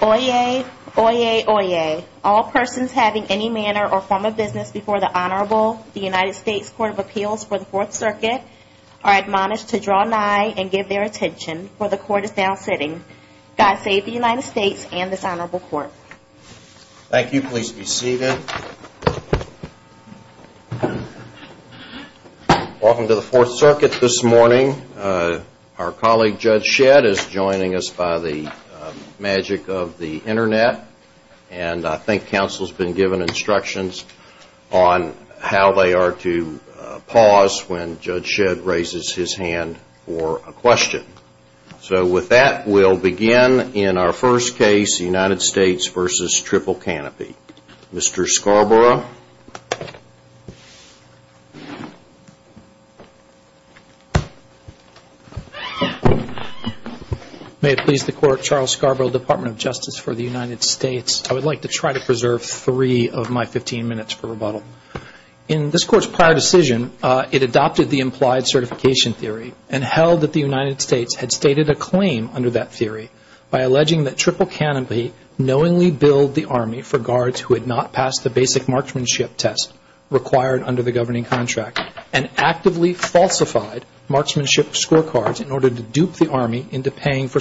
Oyez, Oyez, Oyez. All persons having any manner or form of business before the Honorable United Court of Appeals for the Fourth Circuit are admonished to draw nigh and give their attention, for the Court is now sitting. God save the United States and this Honorable Court. Thank you. Please be seated. Welcome to the Fourth Circuit this morning. Our colleague Judge Shedd is joining us by the magic of the Internet, and I think counsel has been given instructions on how they are to pause when Judge Shedd raises his hand for a question. So with that, we'll begin in our first case, United States v. Triple Canopy. Mr. Scarborough. May it please the Court, Charles Scarborough, Department of Justice for the United States. I would like to try to preserve three of my 15 minutes for rebuttal. In this Court's prior decision, it adopted the implied certification theory and held that the United States had stated a claim under that theory by alleging that Triple Canopy knowingly billed the Army for guards who had not passed the basic marksmanship test required under the governing contract and actively falsified marksmanship scorecards in order to dupe the Army into paying for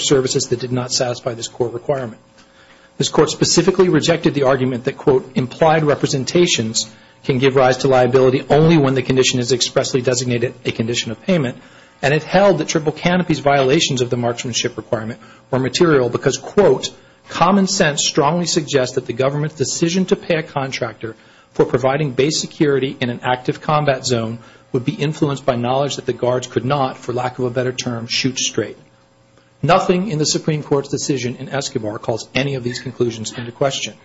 rejected the argument that, quote, implied representations can give rise to liability only when the condition is expressly designated a condition of payment, and it held that Triple Canopy's violations of the marksmanship requirement were material because, quote, common sense strongly suggests that the government's decision to pay a contractor for providing base security in an active combat zone would be influenced by knowledge that the guards could not, for lack of a better term, shoot straight. Nothing in the Supreme Court's decision in Escobar calls any of these conclusions into question.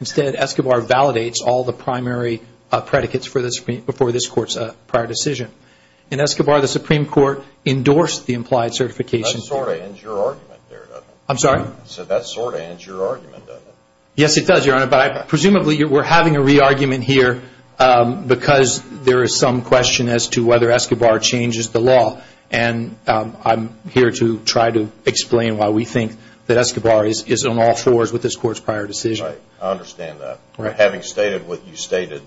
Instead, Escobar validates all the primary predicates before this Court's prior decision. In Escobar, the Supreme Court endorsed the implied certification theory. That sort of ends your argument there, doesn't it? I'm sorry? I said that sort of ends your argument, doesn't it? Yes, it does, Your Honor, but presumably we're having a re-argument here because there is some question as to whether Escobar changes the law, and I'm here to try to explain why we think that Escobar is on all fours with this Court's prior decision. Right. I understand that. Having stated what you stated,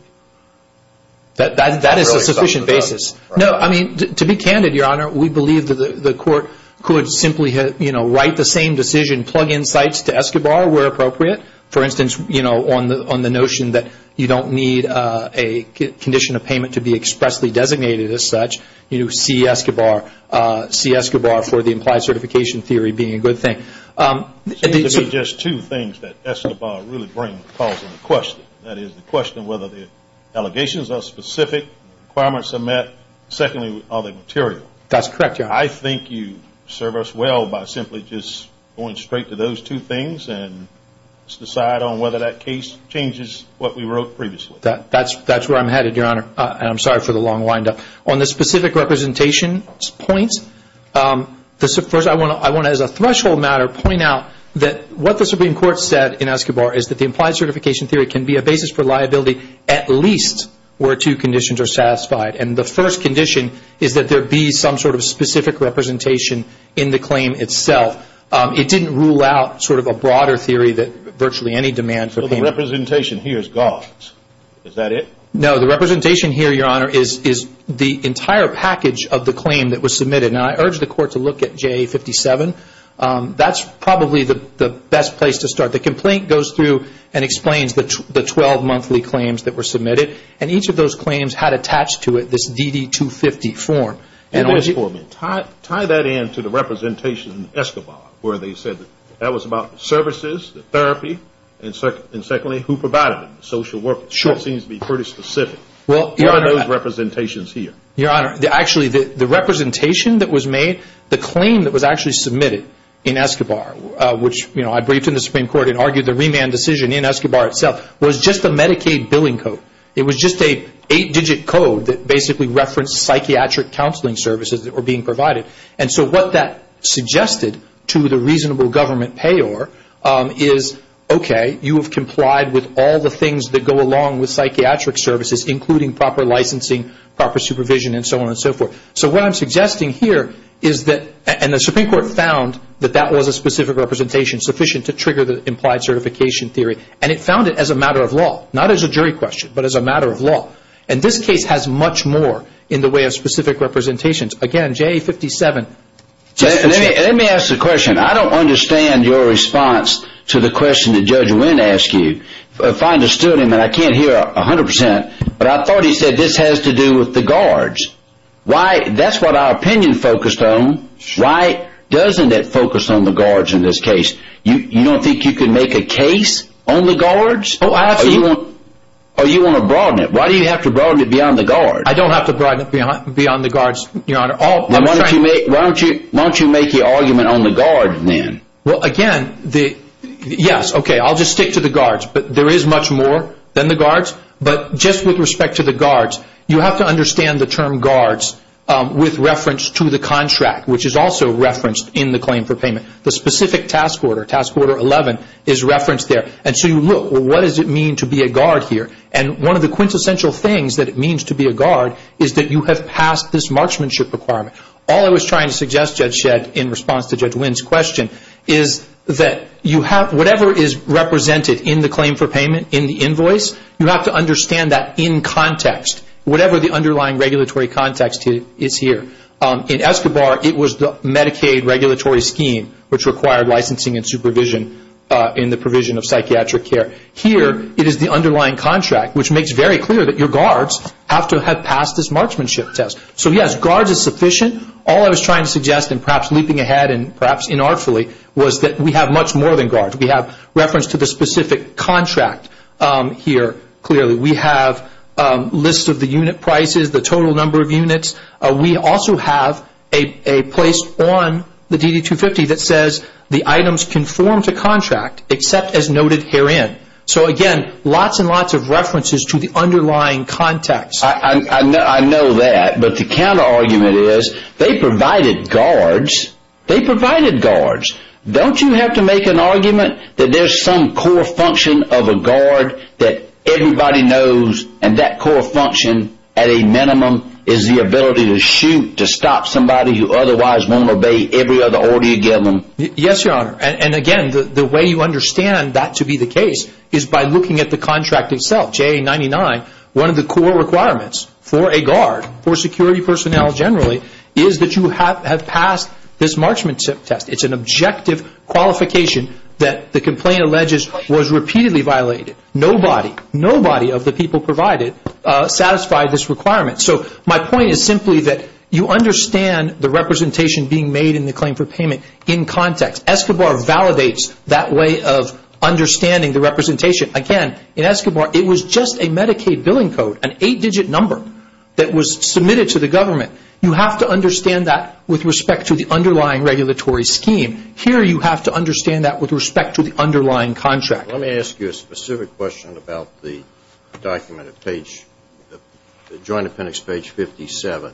that's really some of the... That is a sufficient basis. No, I mean, to be candid, Your Honor, we believe that the Court could simply write the same decision, plug in sites to Escobar where appropriate. For instance, on the notion that you don't need a condition of payment to be expressly It seems to be just two things that Escobar really brings to the question. That is, the question of whether the allegations are specific, requirements are met. Secondly, are they material? That's correct, Your Honor. I think you serve us well by simply just going straight to those two things and decide on whether that case changes what we wrote previously. That's where I'm headed, Your Honor, and I'm sorry for the long wind-up. On the specific threshold matter, point out that what the Supreme Court said in Escobar is that the implied certification theory can be a basis for liability at least where two conditions are satisfied, and the first condition is that there be some sort of specific representation in the claim itself. It didn't rule out sort of a broader theory that virtually any demand for payment... So the representation here is God's. Is that it? No, the representation here, Your Honor, is the entire package of the claim that was submitted. Now, I urge the Court to look at JA-57. That's probably the best place to start. The complaint goes through and explains the 12 monthly claims that were submitted, and each of those claims had attached to it this DD-250 form. And tie that in to the representation in Escobar where they said that was about services, therapy, and secondly, who provided them, social workers. That seems to be pretty specific. What are those representations here? Your Honor, actually, the representation that was made, the claim that was actually submitted in Escobar, which I briefed in the Supreme Court and argued the remand decision in Escobar itself, was just a Medicaid billing code. It was just an eight-digit code that basically referenced psychiatric counseling services that were being provided. And so what that suggested to the reasonable government payor is, okay, you have complied with all the things that go along with psychiatric services, including proper licensing, proper supervision, and so on and so forth. So what I'm suggesting here is that, and the Supreme Court found that that was a specific representation sufficient to trigger the implied certification theory, and it found it as a matter of law, not as a jury question, but as a matter of law. And this case has much more in the way of specific representations. Again, JA-57. Let me ask a question. I don't understand your response to the question that Judge Wynn asked you. I find it astute of him, and I can't hear 100 percent, but I thought he said this has to do with the guards. That's what our opinion focused on. Why doesn't it focus on the guards in this case? You don't think you can make a case on the guards? Oh, absolutely. Or you want to broaden it? Why do you have to broaden it beyond the guards? I don't have to broaden it beyond the guards, Your Honor. Then why don't you make the argument on the guards then? Well, again, yes, okay, I'll just stick to the guards, but there is much more than the guards. But just with respect to the guards, you have to understand the term guards with reference to the contract, which is also referenced in the claim for payment. The specific task order, Task Order 11, is referenced there. And so you look, well, what does it mean to be a guard here? And one of the quintessential things that it means to be a guard is that you have passed this marksmanship requirement. All I was trying to suggest, Judge Shedd, in response to Judge Wynn's question, is that whatever is represented in the claim for payment, in the invoice, you have to understand that in context, whatever the underlying regulatory context is here. In Escobar, it was the Medicaid regulatory scheme, which required licensing and supervision in the provision of psychiatric care. Here, it is the underlying contract, which makes very clear that your guards have to have passed this marksmanship test. So yes, guards is sufficient. All I was trying to suggest, and perhaps leaping ahead and perhaps inartfully, was that we have much more than guards. We have reference to the specific contract here, clearly. We have lists of the unit prices, the total number of units. We also have a place on the DD-250 that says the items conform to contract, except as noted herein. So again, lots and lots of references to the underlying context. I know that, but the counter-argument is they provided guards. They provided guards. Don't you have to make an argument that there is some core function of a guard that everybody knows and that core function, at a minimum, is the ability to shoot, to stop somebody who otherwise won't obey every other order you give them? Yes, Your Honor. Again, the way you understand that to be the case is by looking at the contract itself, JA-99, one of the core requirements for a guard, for security personnel generally, is that you have passed this marksmanship test. It's an objective qualification that the complaint alleges was repeatedly violated. Nobody, nobody of the people provided satisfied this requirement. So my point is simply that you understand the representation being made in the claim for payment in context. Escobar validates that way of understanding the representation. Again, in Escobar, it was just a Medicaid billing code, an eight-digit number, that was submitted to the government. You have to understand that with respect to the underlying regulatory scheme. Here, you have to understand that with respect to the underlying contract. Let me ask you a specific question about the document at page, the Joint Appendix, page 57.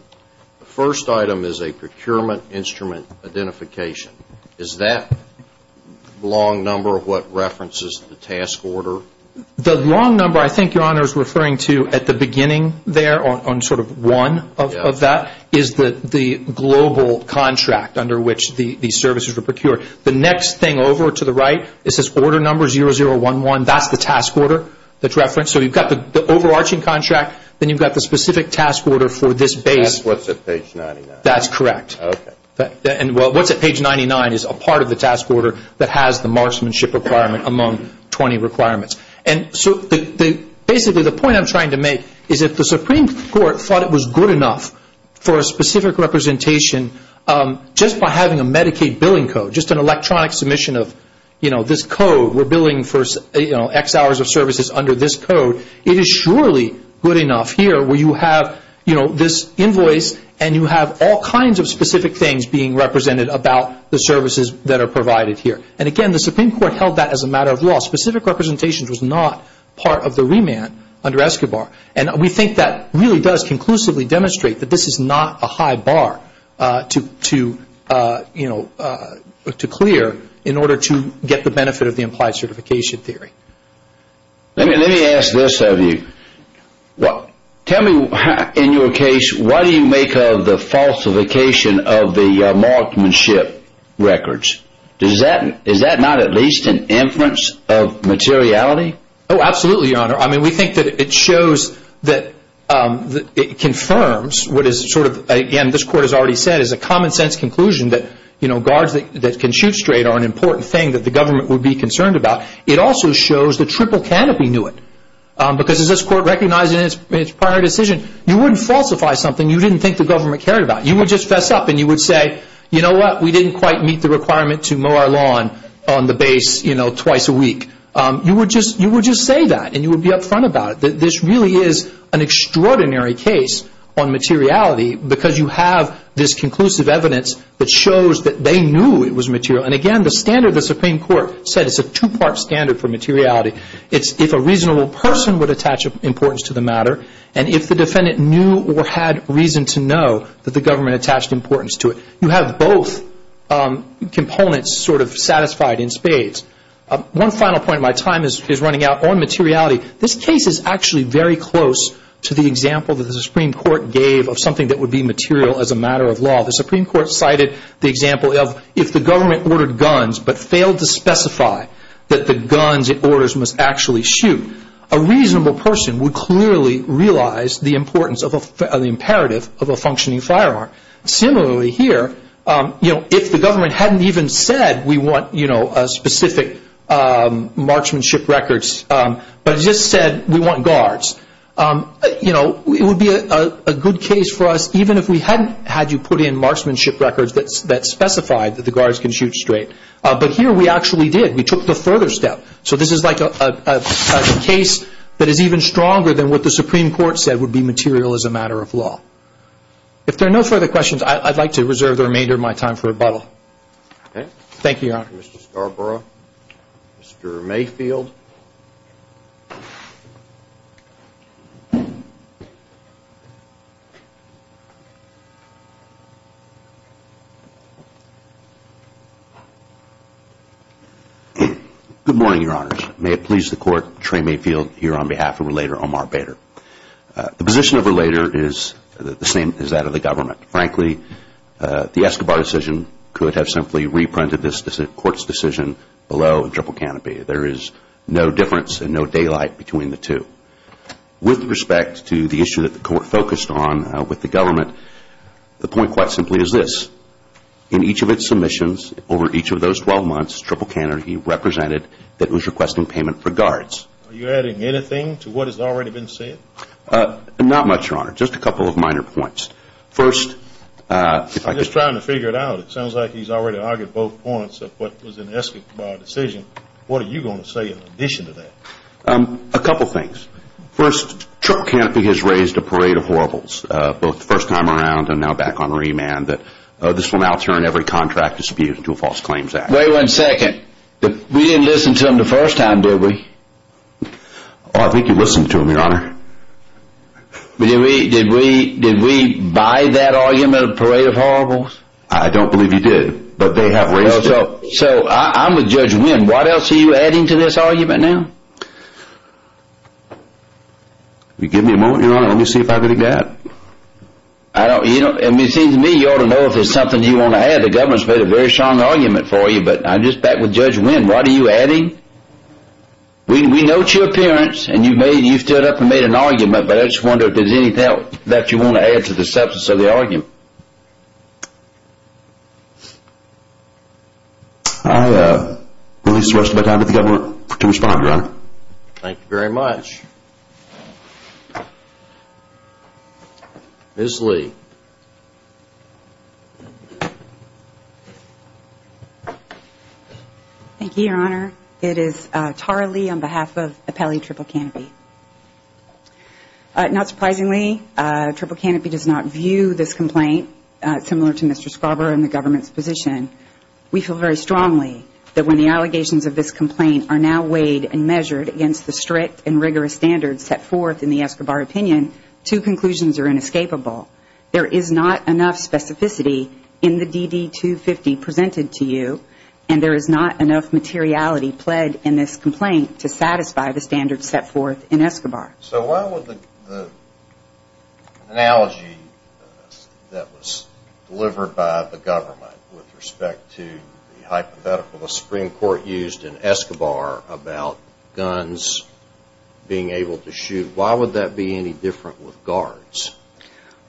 The first item is a procurement instrument identification. Is that long number what references the task order? The long number, I think Your Honor is referring to at the beginning there, on sort of one of that, is the global contract under which the services were procured. The next thing over to the right, it says order number 0011. That's the task order that's referenced. So you've got the overarching contract, then you've got the specific task order for this base. That's what's at page 99. That's correct. Okay. And what's at page 99 is a part of the task order that has the marksmanship requirement among 20 requirements. Basically the point I'm trying to make is if the Supreme Court thought it was good enough for a specific representation, just by having a Medicaid billing code, just an electronic submission of this code, we're billing for X hours of services under this code, it is surely good enough here where you have this invoice and you have all kinds of specific things being represented about the services that are provided here. And again, the Supreme Court held that as a matter of law. Specific representation was not part of the remand under ESCOBAR. And we think that really does conclusively demonstrate that this is not a high bar to clear in order to get the benefit of the implied certification theory. Let me ask this of you. Tell me, in your case, what do you make of the falsification of the marksmanship records? Is that not at least an inference of materiality? Oh, absolutely, Your Honor. I mean, we think that it shows that it confirms what is sort of, again, this Court has already said, is a common sense conclusion that guards that can shoot straight are an important thing that the government would be concerned about. It also shows the triple canopy knew it. Because as this Court recognized in its prior decision, you wouldn't falsify something you didn't think the government cared about. You would just fess up and you would say, you know what, we didn't quite meet the requirement to mow our lawn on the base twice a week. You would just say that and you would be upfront about it. This really is an extraordinary case on materiality because you have this conclusive evidence that shows that they knew it was material. And again, the standard the Supreme Court set is a two-part standard for materiality. It's if a reasonable person would attach importance to the matter and if the defendant knew or had reason to know that the government attached importance to it. You have both components sort of satisfied in spades. One final point of my time is running out on materiality. This case is actually very close to the example that the Supreme Court gave of something that would be material as a matter of law. The Supreme Court cited the example of if the government ordered guns but failed to specify that the guns it orders must actually shoot, a reasonable person would clearly realize the importance of the imperative of a functioning firearm. Similarly here, if the government hadn't even said we want specific marksmanship records, but just said we want guards, it would be a good case for us even if we hadn't had you put in marksmanship records that specified that the guards can shoot straight. But here we actually did. We took the further step. So this is like a case that is even stronger than what the Supreme Court said would be material as a matter of law. If there are no further questions, I'd like to reserve the remainder of my time for rebuttal. Thank you, Your Honor. Good morning, Your Honors. May it please the Court, Trey Mayfield here on behalf of Relator Omar Bader. The position of Relator is the same as that of the government. Frankly, the Escobar decision could have simply reprinted this Court's decision below a dribble canopy. There is no difference and no daylight between the two. With respect to the issue that the of those 12 months, dribble canopy represented that it was requesting payment for guards. Are you adding anything to what has already been said? Not much, Your Honor. Just a couple of minor points. First, if I could... I'm just trying to figure it out. It sounds like he's already argued both points of what was an Escobar decision. What are you going to say in addition to that? A couple things. First, dribble canopy has raised a parade of horribles, both the first time around and now back on remand, that this will now turn every contract dispute into a false claims act. Wait one second. We didn't listen to him the first time, did we? I think you listened to him, Your Honor. Did we buy that argument, a parade of horribles? I don't believe you did, but they have raised it. So, I'm with Judge Wynn. What else are you adding to this argument now? Give me a moment, Your Honor. Let me see if I can adapt. It seems to me you ought to know if there's something you want to add. The government has made a very strong argument for you, but I'm just back with Judge Wynn. What are you adding? We note your appearance and you stood up and made an argument, but I just wonder if there's anything else that you want to add to the substance of the argument. I will leave the rest of my time to the government to respond, Your Honor. Thank you very much. Ms. Lee. Thank you, Your Honor. It is Tara Lee on behalf of Appellee Triple Canopy. Not surprisingly, Triple Canopy does not view this complaint similar to Mr. Scrubber and the government's position. We feel very strongly that when the allegations of this complaint are now weighed and measured against the strict and rigorous standards set forth in the Escobar opinion, two conclusions are inescapable. There is not enough specificity in the DD-250 presented to you and there is not enough materiality pled in this complaint to satisfy the standards set forth in Escobar. So, why would the analogy that was delivered by the government with respect to the hypothetical the Supreme Court used in Escobar about guns being able to shoot, why would that be any different with guards?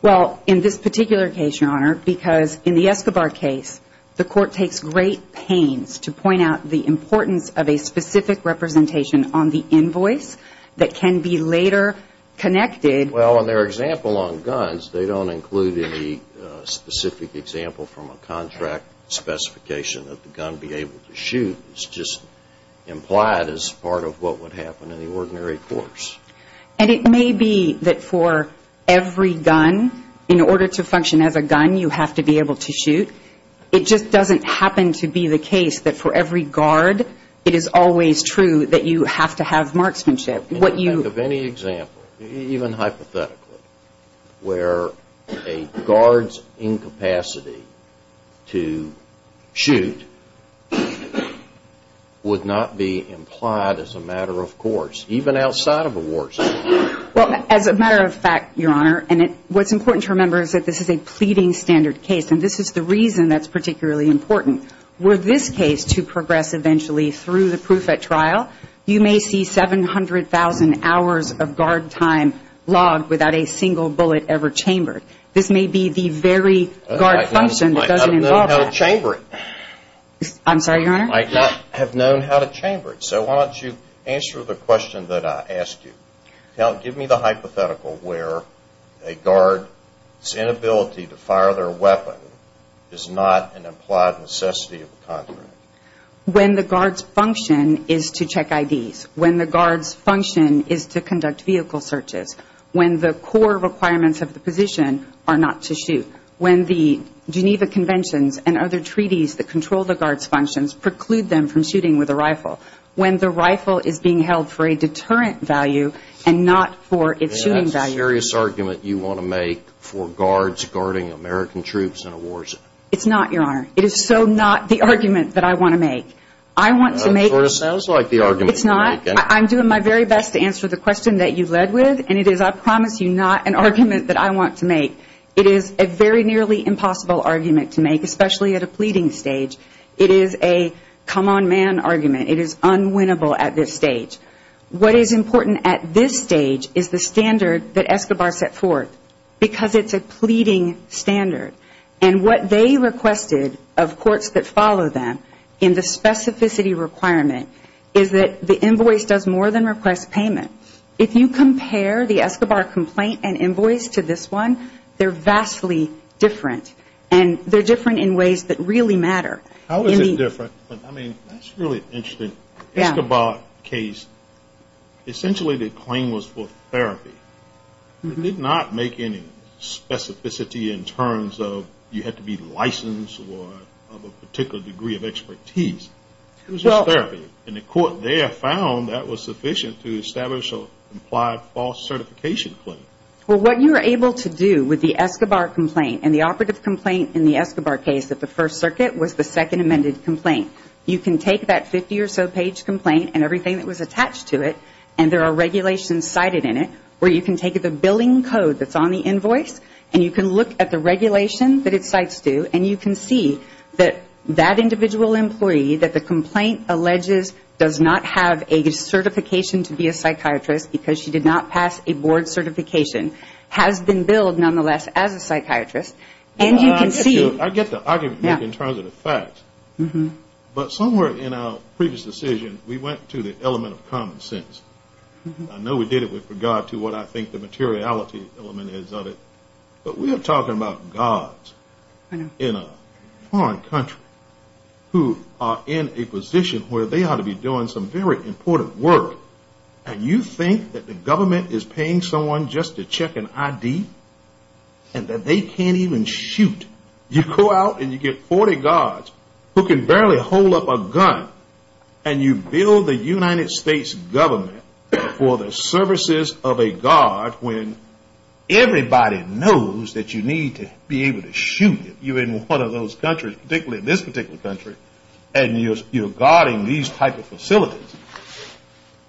Well, in this particular case, Your Honor, because in the Escobar case, the court takes great pains to point out the importance of a specific representation on the invoice that can be later connected. Well, in their example on guns, they don't include any specific example from a contract specification that the gun be able to shoot. It's just implied as part of what would happen in the ordinary courts. And it may be that for every gun, in order to function as a gun, you have to be able to shoot. It just doesn't happen to be the case that for every guard, it is always true that you have to have marksmanship. In the event of any example, even hypothetically, where a guard's incapacity to shoot would not be implied as a matter of course, even outside of a war zone. Well, as a matter of fact, Your Honor, and what's important to remember is that this is a pleading standard case, and this is the reason that's particularly important. Were this case to progress eventually through the proof at trial, you may see 700,000 hours of guard time logged without a single bullet ever chambered. This may be the very guard function that doesn't involve that. I might not have known how to chamber it. I'm sorry, Your Honor? I might not have known how to chamber it. So why don't you answer the question that I ask you. Give me the hypothetical where a guard's inability to fire their weapon is not an implied necessity of the contract. When the guard's function is to check IDs. When the guard's function is to conduct vehicle searches. When the core requirements of the position are not to shoot. When the Geneva Conventions and other treaties that control the guard's functions preclude them from shooting with a rifle. When the rifle is being held for a deterrent value and not for its shooting value. And that's a serious argument you want to make for guards guarding American troops in a war zone. It's not, Your Honor. It is so not the argument that I want to make. It sort of sounds like the argument. It's not. I'm doing my very best to answer the question that you led with, and it is, I promise you, not an argument that I want to make. It is a very nearly impossible argument to make, especially at a pleading stage. It is a come-on-man argument. It is unwinnable at this stage. What is important at this stage is the standard that Escobar set forth. Because it's a pleading standard. And what they requested of courts that follow them in the specificity requirement is that the invoice does more than request payment. If you compare the Escobar complaint and invoice to this one, they're vastly different. And they're different in ways that really matter. How is it different? I mean, that's really interesting. Escobar case, essentially the claim was for therapy. It did not make any specificity in terms of you had to be licensed or have a particular degree of expertise. It was just therapy. And the court there found that was sufficient to establish or apply a false certification claim. Well, what you were able to do with the Escobar complaint and the operative complaint in the Escobar case at the First Circuit was the second amended complaint. You can take that 50 or so page complaint and everything that was attached to it and there are regulations cited in it where you can take the billing code that's on the invoice and you can look at the regulation that it cites to and you can see that that individual employee that the complaint alleges does not have a certification to be a psychiatrist because she did not pass a board certification has been billed nonetheless as a psychiatrist. And you can see... I get the argument in terms of the facts. But somewhere in our previous decision, we went to the element of common sense. I know we did it with regard to what I think the materiality element is of it. But we are talking about gods in a foreign country who are in a position where they ought to be doing some very important work and you think that the government is paying someone just to check an ID and that they can't even shoot. You go out and you get 40 gods who can barely hold up a gun and you bill the United States government for the services of a god when everybody knows that you need to be able to shoot if you're in one of those countries, particularly this particular country, and you're guarding these type of facilities.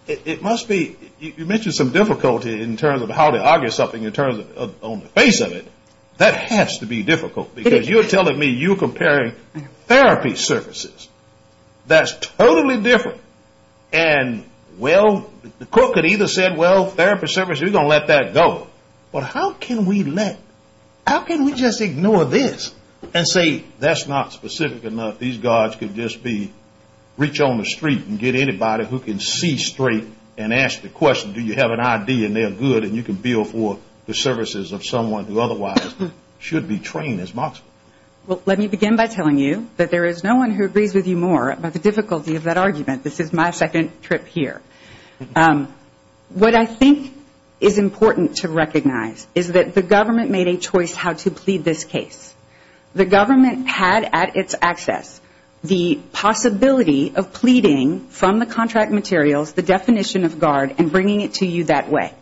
It must be you mentioned some difficulty in terms of how to argue something in terms of on the face of it. That has to be difficult because you're telling me you're comparing therapy services. That's totally different. And well, the court could either say, well therapy services, we're going to let that go. But how can we let that go? How can we just ignore this and say that's not specific enough. These gods can just be, reach on the street and get anybody who can see straight and ask the question, do you have an ID and they're good and you can bill for the services of someone who otherwise should be trained as much. Well, let me begin by telling you that there is no one who agrees with you more about the difficulty of that argument. This is my second trip here. What I think is important to you is that you have a choice how to plead this case. The government had at its access the possibility of pleading from the contract materials, the definition of guard and bringing it to you that way.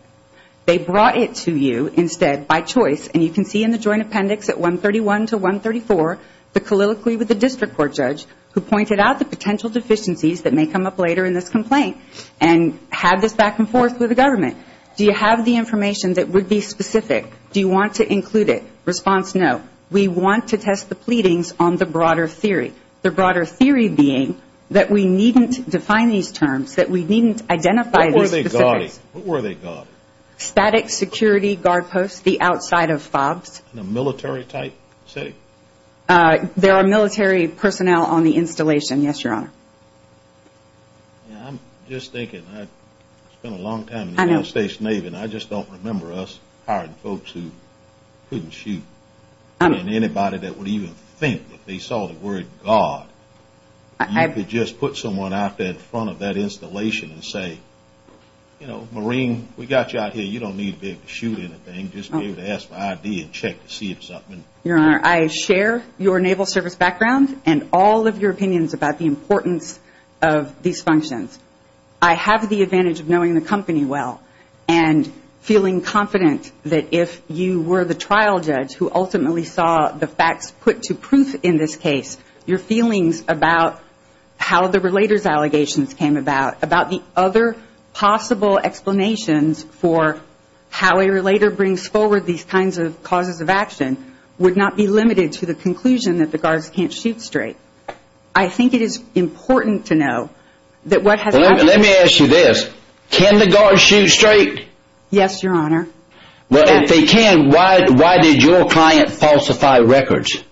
They brought it to you instead by choice and you can see in the joint appendix at 131 to 134, the colloquy with the district court judge who pointed out the potential deficiencies that may come up later in this complaint and had this back and forth with the government. Do you have the information that you want to include it? Response, no. We want to test the pleadings on the broader theory. The broader theory being that we needn't define these terms, that we needn't identify these specifics. What were they called? Static security guard posts, the outside of fobs. In a military type city? There are military personnel on the installation, yes, your honor. I'm just thinking, I spent a long time in the United States Navy and I just don't remember us hiring folks who couldn't shoot. Anybody that would even think if they saw the word guard you could just put someone out there in front of that installation and say you know, Marine, we got you out here, you don't need to be able to shoot anything just be able to ask for ID and check to see if it's up. Your honor, I share your naval service background and all of your opinions about the importance of these functions. I have the advantage of knowing the company well and feeling confident that if you were the trial judge who ultimately saw the facts put to proof in this case your feelings about how the relator's allegations came about, about the other possible explanations for how a relator brings forward these kinds of causes of action would not be limited to the conclusion that the guards can't shoot straight. I think it is important to know that what has happened to this, can the guards shoot straight? Yes, your honor. Well, if they can, why did your client falsify records?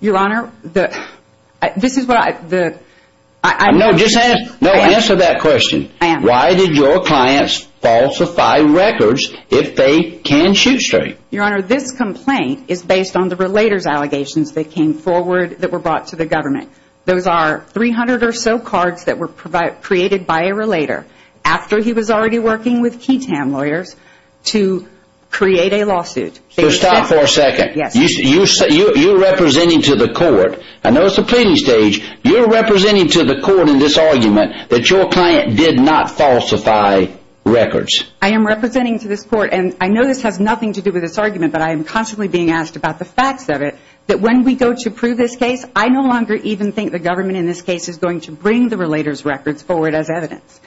Your honor, this is what I No, just answer that question. I am. Why did your clients falsify records if they can shoot straight? Your honor, this complaint is based on the relator's allegations that came forward that were brought to the government. Those are 300 or so cards that were created by a relator after he was already working with lawyers to create a lawsuit. So stop for a second. You're representing to the court, I know it's the pleading stage, you're representing to the court in this argument that your client did not falsify records. I am representing to this court and I know this has nothing to do with this argument, but I am constantly being asked about the facts of it, that when we go to prove this case, I no longer even think the government in this case is going to bring the relator's records forward as evidence.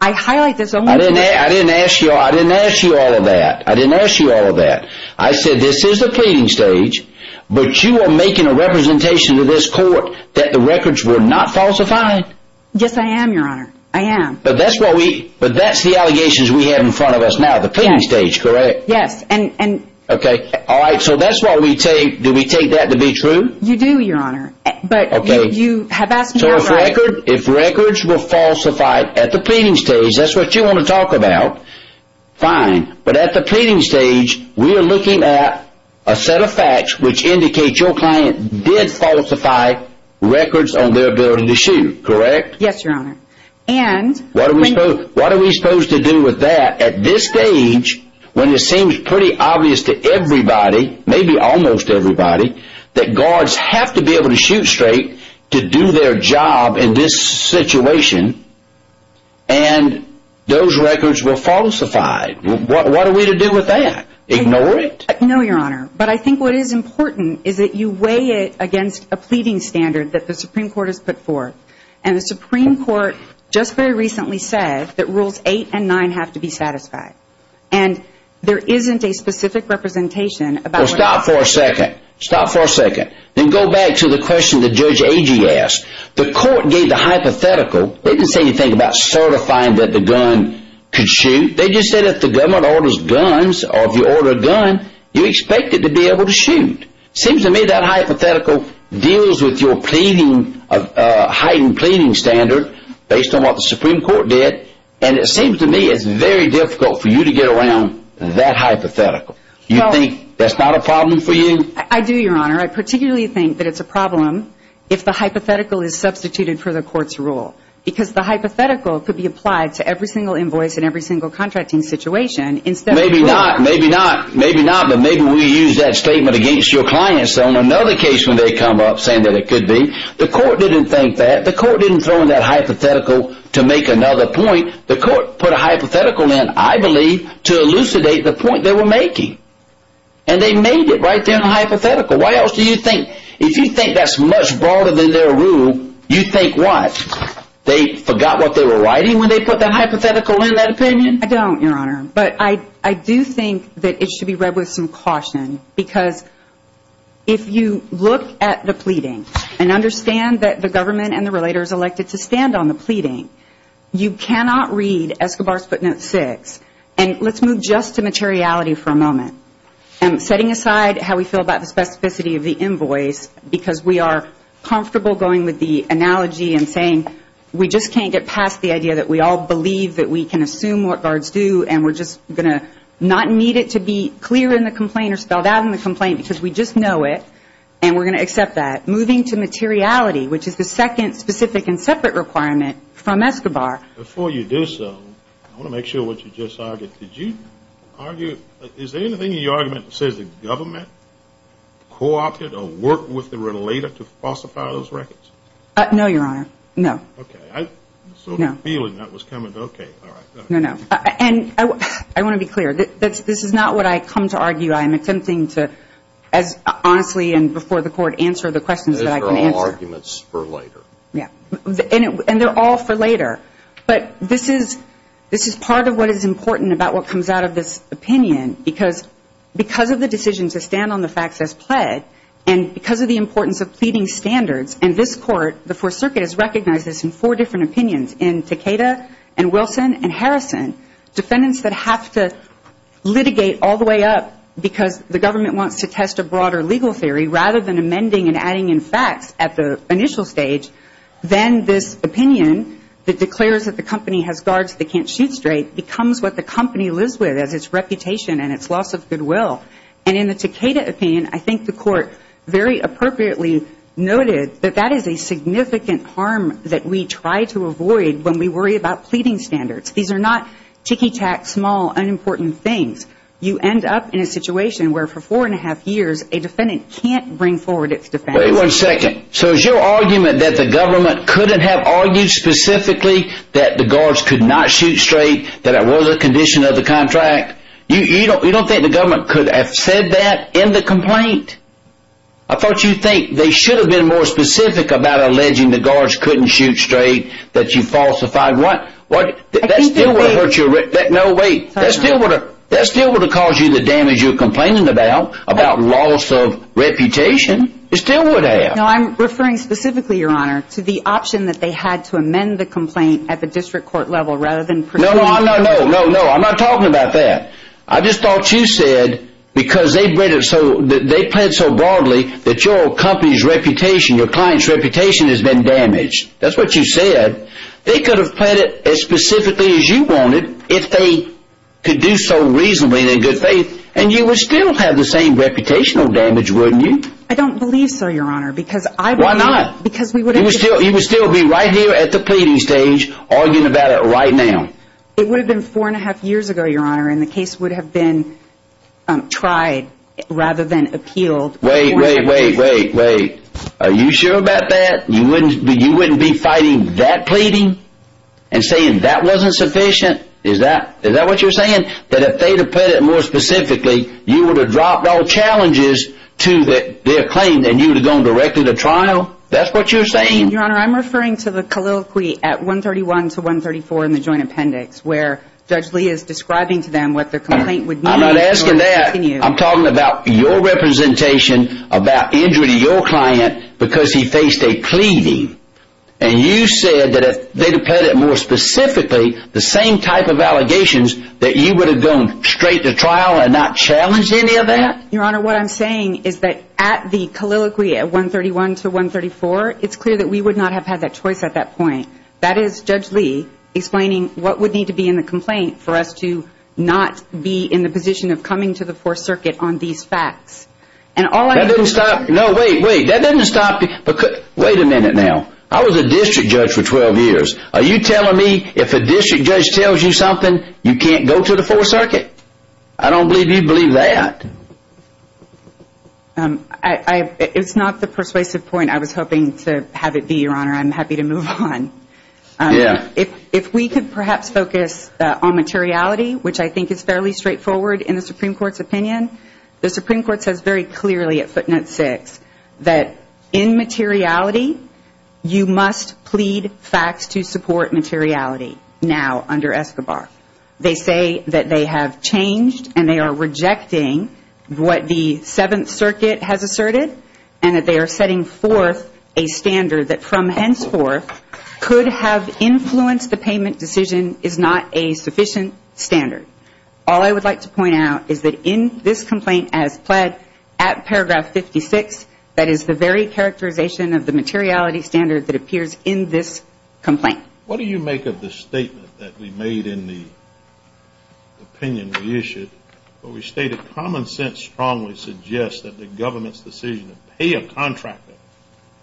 I highlight this only because I didn't ask you all of that. I didn't ask you all of that. I said this is the pleading stage, but you are making a representation to this court that the records were not falsified. Yes, I am, your honor. I am. But that's the allegations we have in front of us now, the pleading stage, correct? Yes. Alright, so that's why we take, do we take that to be true? You do, your honor. So if records were falsified at the pleading stage, that's what you want to talk about, fine, but at the pleading stage we are looking at a set of facts which indicate your client did falsify records on their ability to shoot, correct? Yes, your honor. What are we supposed to do with that at this stage when it seems pretty obvious to everybody, maybe almost everybody, that guards have to be able to shoot straight to do their job in this situation and those records were falsified. What are we to do with that? Ignore it? No, your honor. But I think what is important is that you weigh it against a pleading standard that the Supreme Court has put forth. And the Supreme Court just very recently said that rules 8 and 9 have to be satisfied. And there isn't a specific representation about... Well, stop for a second. Stop for a second. Then go back to the question that Judge Agee asked. The court gave the hypothetical. They didn't say anything about certifying that the gun could shoot. They just said if the government orders guns, or if you order a gun, you expect it to be able to shoot. It seems to me that hypothetical deals with your heightened pleading standard based on what the Supreme Court did. And it seems to me it's very difficult for you to get around that hypothetical. You think that's not a problem for you? I do, your honor. I particularly think that it's a problem if the hypothetical is substituted for the court's rule. Because the hypothetical could be applied to every single invoice in every single contracting situation instead of... Maybe not. Maybe not. Maybe not. But maybe we use that statement against your clients on another case when they come up saying that it could be. The court didn't think that. The court didn't throw in that hypothetical to make another point. The court put a hypothetical in, I believe, to elucidate the point they were making. And they made it right there in the hypothetical. Why else do you think... If you think that's much broader than their rule, you think what? They forgot what they were writing when they put that hypothetical in, that opinion? I don't, your honor. But I do think that it should be read with some caution. Because if you look at the pleading and understand that the government and the relators elected to stand on the pleading, you cannot read Escobar's footnote 6. And let's move just to materiality for a moment. Setting aside how we feel about the specificity of the invoice because we are comfortable going with the analogy and saying we just can't get past the idea that we all believe that we can assume what guards do and we're just going to not need it to be clear in the complaint or spelled out in the complaint because we just know it. And we're going to accept that. Moving to materiality, which is the second specific and separate requirement from Now, I'm going to ask you a question. I'm going to ask you a question. Before you do so, I want to make sure what you just argued. Did you argue... Is there anything in your argument that says the government co-opted or worked with the relator to falsify those records? No, Your Honor. No. And I want to be clear. This is not what I come to argue. I'm attempting to as honestly and before the court answer the questions that I can answer. And they're all for later. But this is part of what is important about what comes out of this opinion because of the decision to stand on the facts as pled and because of the importance of pleading standards. And this court, the Fourth Circuit, has recognized this in four different opinions in Takeda and Wilson and Harrison, defendants that have to litigate all the way up because the government wants to test a broader legal theory rather than amending and adding in facts at the initial stage. Then this opinion that declares that the company has guards that can't shoot straight becomes what the company lives with as its reputation and its loss of goodwill. And in the Takeda opinion, I think the court very appropriately noted that that is a significant harm that we try to avoid when we worry about pleading standards. These are not ticky-tack, small, unimportant things. You end up in a situation where for four and a half years, a defendant can't bring forward its defense. Wait one second. So is your argument that the government couldn't have argued specifically that the guards could not shoot straight, that it was a condition of the contract? You don't think the government could have said that in the complaint? I thought you'd think they should have been more specific about alleging the guards couldn't shoot straight, that you falsified. That still would have hurt your reputation. No, wait. That still would have caused you the damage you're complaining about, about loss of reputation. It still would have. No, I'm referring specifically, Your Honor, to the option that they had to amend the complaint at the district court level rather than proceed. No, no, no. I'm not talking about that. I just thought you said, because they played it so broadly that your company's reputation, your client's reputation has been damaged. That's what you said. They could have played it as specifically as you wanted if they could do so reasonably and in good faith and you would still have the same reputational damage, wouldn't you? I don't believe so, Your Honor. Why not? Because you would still be right here at the pleading stage arguing about it right now. It would have been four and a half years ago, Your Honor, and the case would have been tried rather than appealed. Wait, wait, wait, wait, wait. Are you sure about that? You wouldn't be fighting that pleading and saying that wasn't sufficient? Is that what you're saying? That if they had played it more specifically, you would have dropped all challenges to their claim and you would have gone directly to trial? That's what you're saying? Your Honor, I'm referring to the colloquy at 131 to 134 in the joint appendix where Judge Lee is describing to them what their complaint would mean. I'm not asking that. I'm talking about your representation about injury to your client because he faced a pleading and you said that if they had played it more specifically the same type of allegations that you would have gone straight to trial and not challenged any of that? Your Honor, what I'm saying is that at the colloquy at 131 to 134, it's clear that we would not have had that choice at that point. That is Judge Lee explaining what would need to be in the complaint for us to not be in the position of coming to the 4th Circuit on these facts. And all I'm... That doesn't stop... No, wait, wait. That doesn't stop... Wait a minute now. I was a district judge for 12 years. Are you telling me if a district judge tells you something, you can't go to the 4th Circuit? I don't believe you'd believe that. It's not the persuasive point I was hoping to have it be, Your Honor. I'm happy to move on. If we could perhaps focus on materiality, which I think is fairly straightforward in the Supreme Court's opinion. The Supreme Court says very clearly at footnote 6 that in materiality you must plead facts to support materiality now under Escobar. They say that they have changed and they are rejecting what the 7th Circuit has asserted and that they are setting forth a standard that from henceforth could have influenced the payment decision is not a sufficient standard. All I would like to point out is that in this complaint as pled at paragraph 56, that is the very characterization of the materiality standard that appears in this complaint. What do you make of the statement that we made in the opinion we issued where we stated common sense strongly suggests that the government's decision to pay a contractor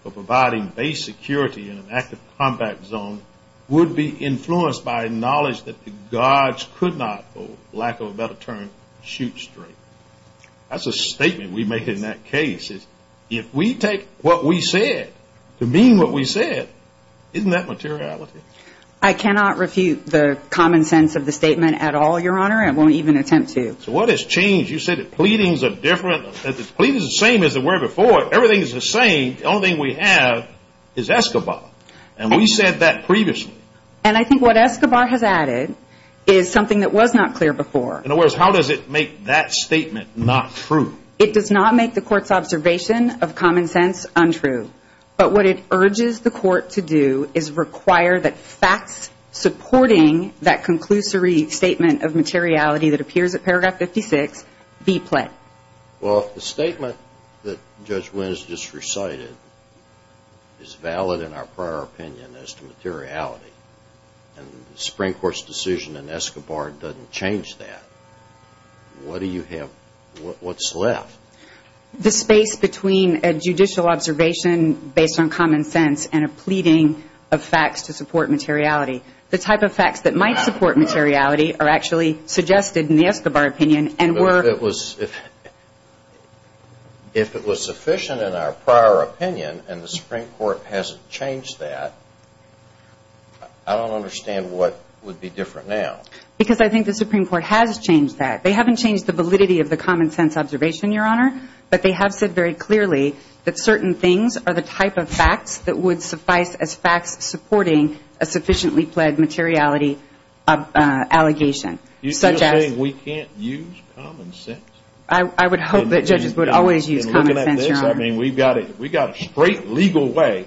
for providing base security in an active combat zone would be influenced by knowledge that the guards could not, for lack of a better term, shoot straight. That's a statement we made in that case. If we take what we said to mean what we said, isn't that materiality? I cannot refute the common sense of the statement at all, Your Honor. I won't even attempt to. So what has changed? You said the pleadings are different. The pleadings are the same as they were before. Everything is the same. The only thing we have is Escobar. And we said that previously. And I think what Escobar has added is something that was not clear before. In other words, how does it make that statement not true? It does not make the Court's observation of common sense untrue. But what it urges the Court to do is require that facts supporting that conclusory statement of materiality that appears at paragraph 56 be pled. Well, if the statement that Judge Wynn has just recited is valid in our prior opinion as to materiality, and the Supreme Court's decision in Escobar doesn't change that, what do you have? What's left? The space between a judicial observation based on common sense and a pleading of facts to support materiality. The type of facts that might support materiality are actually suggested in the Escobar opinion and were If it was sufficient in our prior opinion and the Supreme Court hasn't changed that, I don't understand what would be different now. Because I think the Supreme Court has changed that. They haven't changed the validity of the common sense observation, Your Honor. But they have said very clearly that certain things are the type of facts that would suffice as facts supporting a sufficiently pled materiality allegation. You're saying we can't use common sense? I would hope that judges would always use common sense, Your Honor. We've got a straight legal way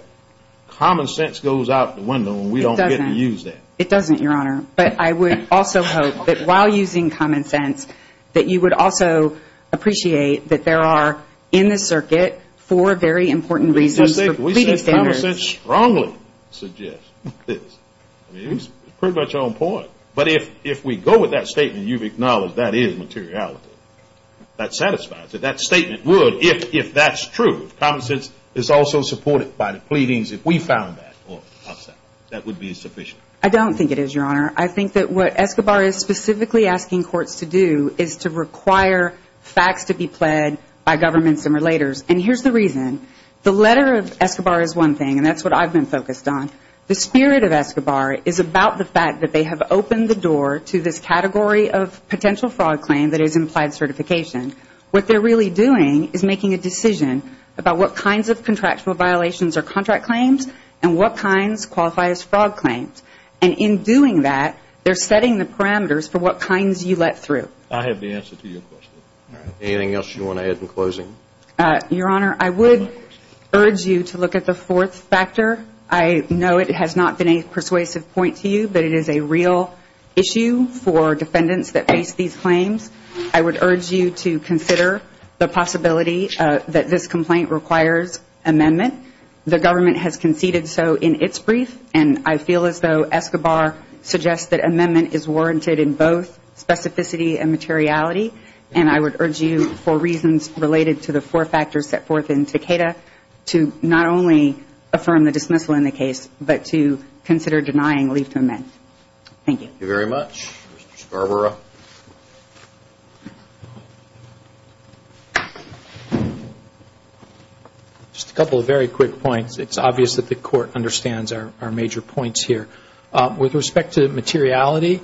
common sense goes out the window and we don't get to use that. It doesn't, Your Honor. But I would also hope that while using common sense, that you would also appreciate that there are, in this circuit, four very important reasons for pleading standards. We said common sense strongly suggests this. It's pretty much on point. But if we go with that statement, you've acknowledged that is materiality. That satisfies it. That statement would, if that's true, if common sense is also supported by the pleadings, if we found that, that would be sufficient. I don't think it is, Your Honor. I think that what Escobar is specifically asking courts to do is to require facts to be pled by governments and relators. And here's the reason. The letter of Escobar is one thing, and that's what I've been focused on. The spirit of Escobar is about the fact that they have opened the door to this category of potential fraud claim that is implied certification. What they're really doing is making a decision about what kinds of contractual violations are contract claims and what kinds qualify as fraud claims. And in doing that, they're setting the parameters for what kinds you let through. I have the answer to your question. Anything else you want to add in closing? Your Honor, I would urge you to look at the fourth factor. I know it has not been a persuasive point to you, but it is a real issue for defendants that face these claims. I would urge you to consider the possibility that this complaint requires amendment. The government has conceded so in its brief, and I feel as though Escobar suggests that amendment is warranted in both specificity and materiality. And I would urge you for reasons related to the four factors set forth in Takeda to not only affirm the dismissal in the case, but to consider denying leave to amend. Thank you. Thank you very much. Mr. Scarborough? Just a couple of very quick points. It's obvious that the Court understands our major points here. With respect to materiality,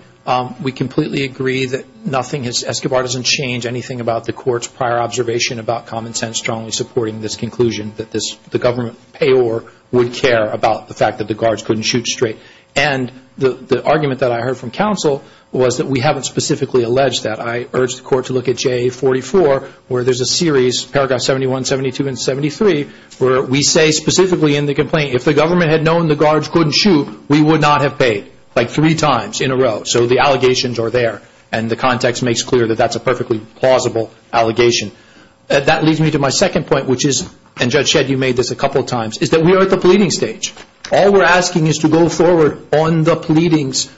we completely agree that nothing, Escobar doesn't change anything about the Court's prior observation about common sense strongly supporting this conclusion that the government payor would care about the fact that the guards couldn't shoot straight. And the argument that I heard from counsel was that we haven't specifically alleged that. I urge the Court to look at JA44, where there's a series, paragraph 71, 72, and 73, where we say specifically in the complaint, if the government had known the guards couldn't shoot, we would not have paid. Like three times in a row. So the allegations are there. And the context makes clear that that's a perfectly plausible allegation. That leads me to my second point, which is, and Judge Shedd, you made this a couple of times, is that we are at the pleading stage. All we're asking is to go forward on the pleadings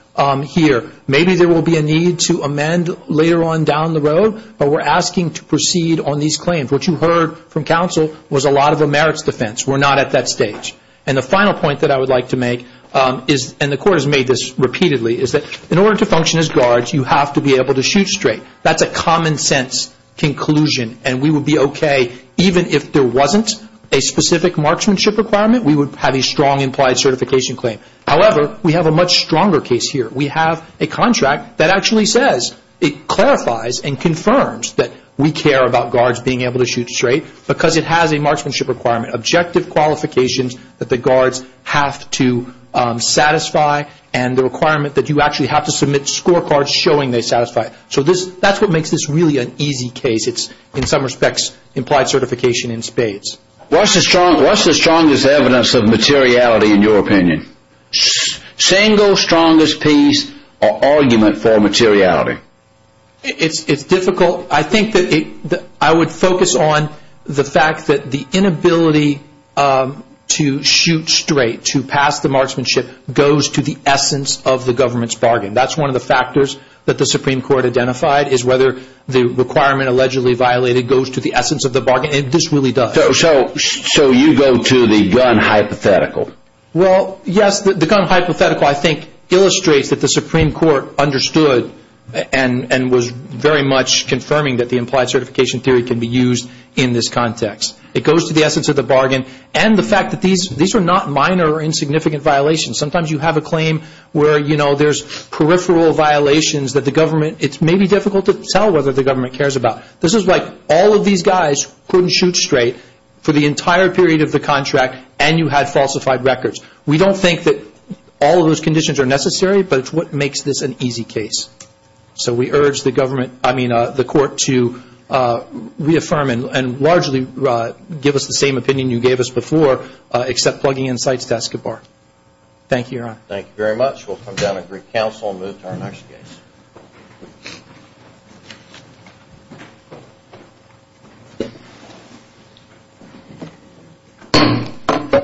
here. Maybe there will be a need to amend later on down the road, but we're asking to proceed on these claims. What you heard from counsel was a lot of a merits defense. We're not at that stage. And the final point that I would like to make, and the Court has made this repeatedly, is that in order to function as guards, you have to be able to shoot straight. That's a common sense conclusion. And we would be okay, even if there wasn't a specific marksmanship requirement, we would have a strong implied certification claim. However, we have a much stronger case here. We have a contract that actually says, it clarifies and confirms that we care about guards being able to shoot straight, because it has a marksmanship requirement. Objective qualifications that the guards have to satisfy, and the scorecards showing they satisfy. So that's what makes this really an easy case. It's, in some respects, implied certification in spades. What's the strongest evidence of materiality, in your opinion? Single strongest piece or argument for materiality. It's difficult. I think that I would focus on the fact that the inability to shoot straight, to pass the marksmanship, goes to the essence of the government's bargain. That's one of the factors that the Supreme Court identified, is whether the requirement allegedly violated goes to the essence of the bargain. This really does. So you go to the gun hypothetical. Well, yes. The gun hypothetical, I think, illustrates that the Supreme Court understood, and was very much confirming that the implied certification theory can be used in this context. It goes to the essence of the bargain, and the fact that these are not minor or insignificant violations. Sometimes you have a claim where there's peripheral violations that the government, it's maybe difficult to tell whether the government cares about. This is like all of these guys couldn't shoot straight for the entire period of the contract, and you had falsified records. We don't think that all of those conditions are necessary, but it's what makes this an easy case. So we urge the court to reaffirm and largely give us the same opinion you gave us before, except plugging in sites to ask a bargain. Thank you, Your Honor. Thank you very much. We'll come down and greet counsel and move to our next case.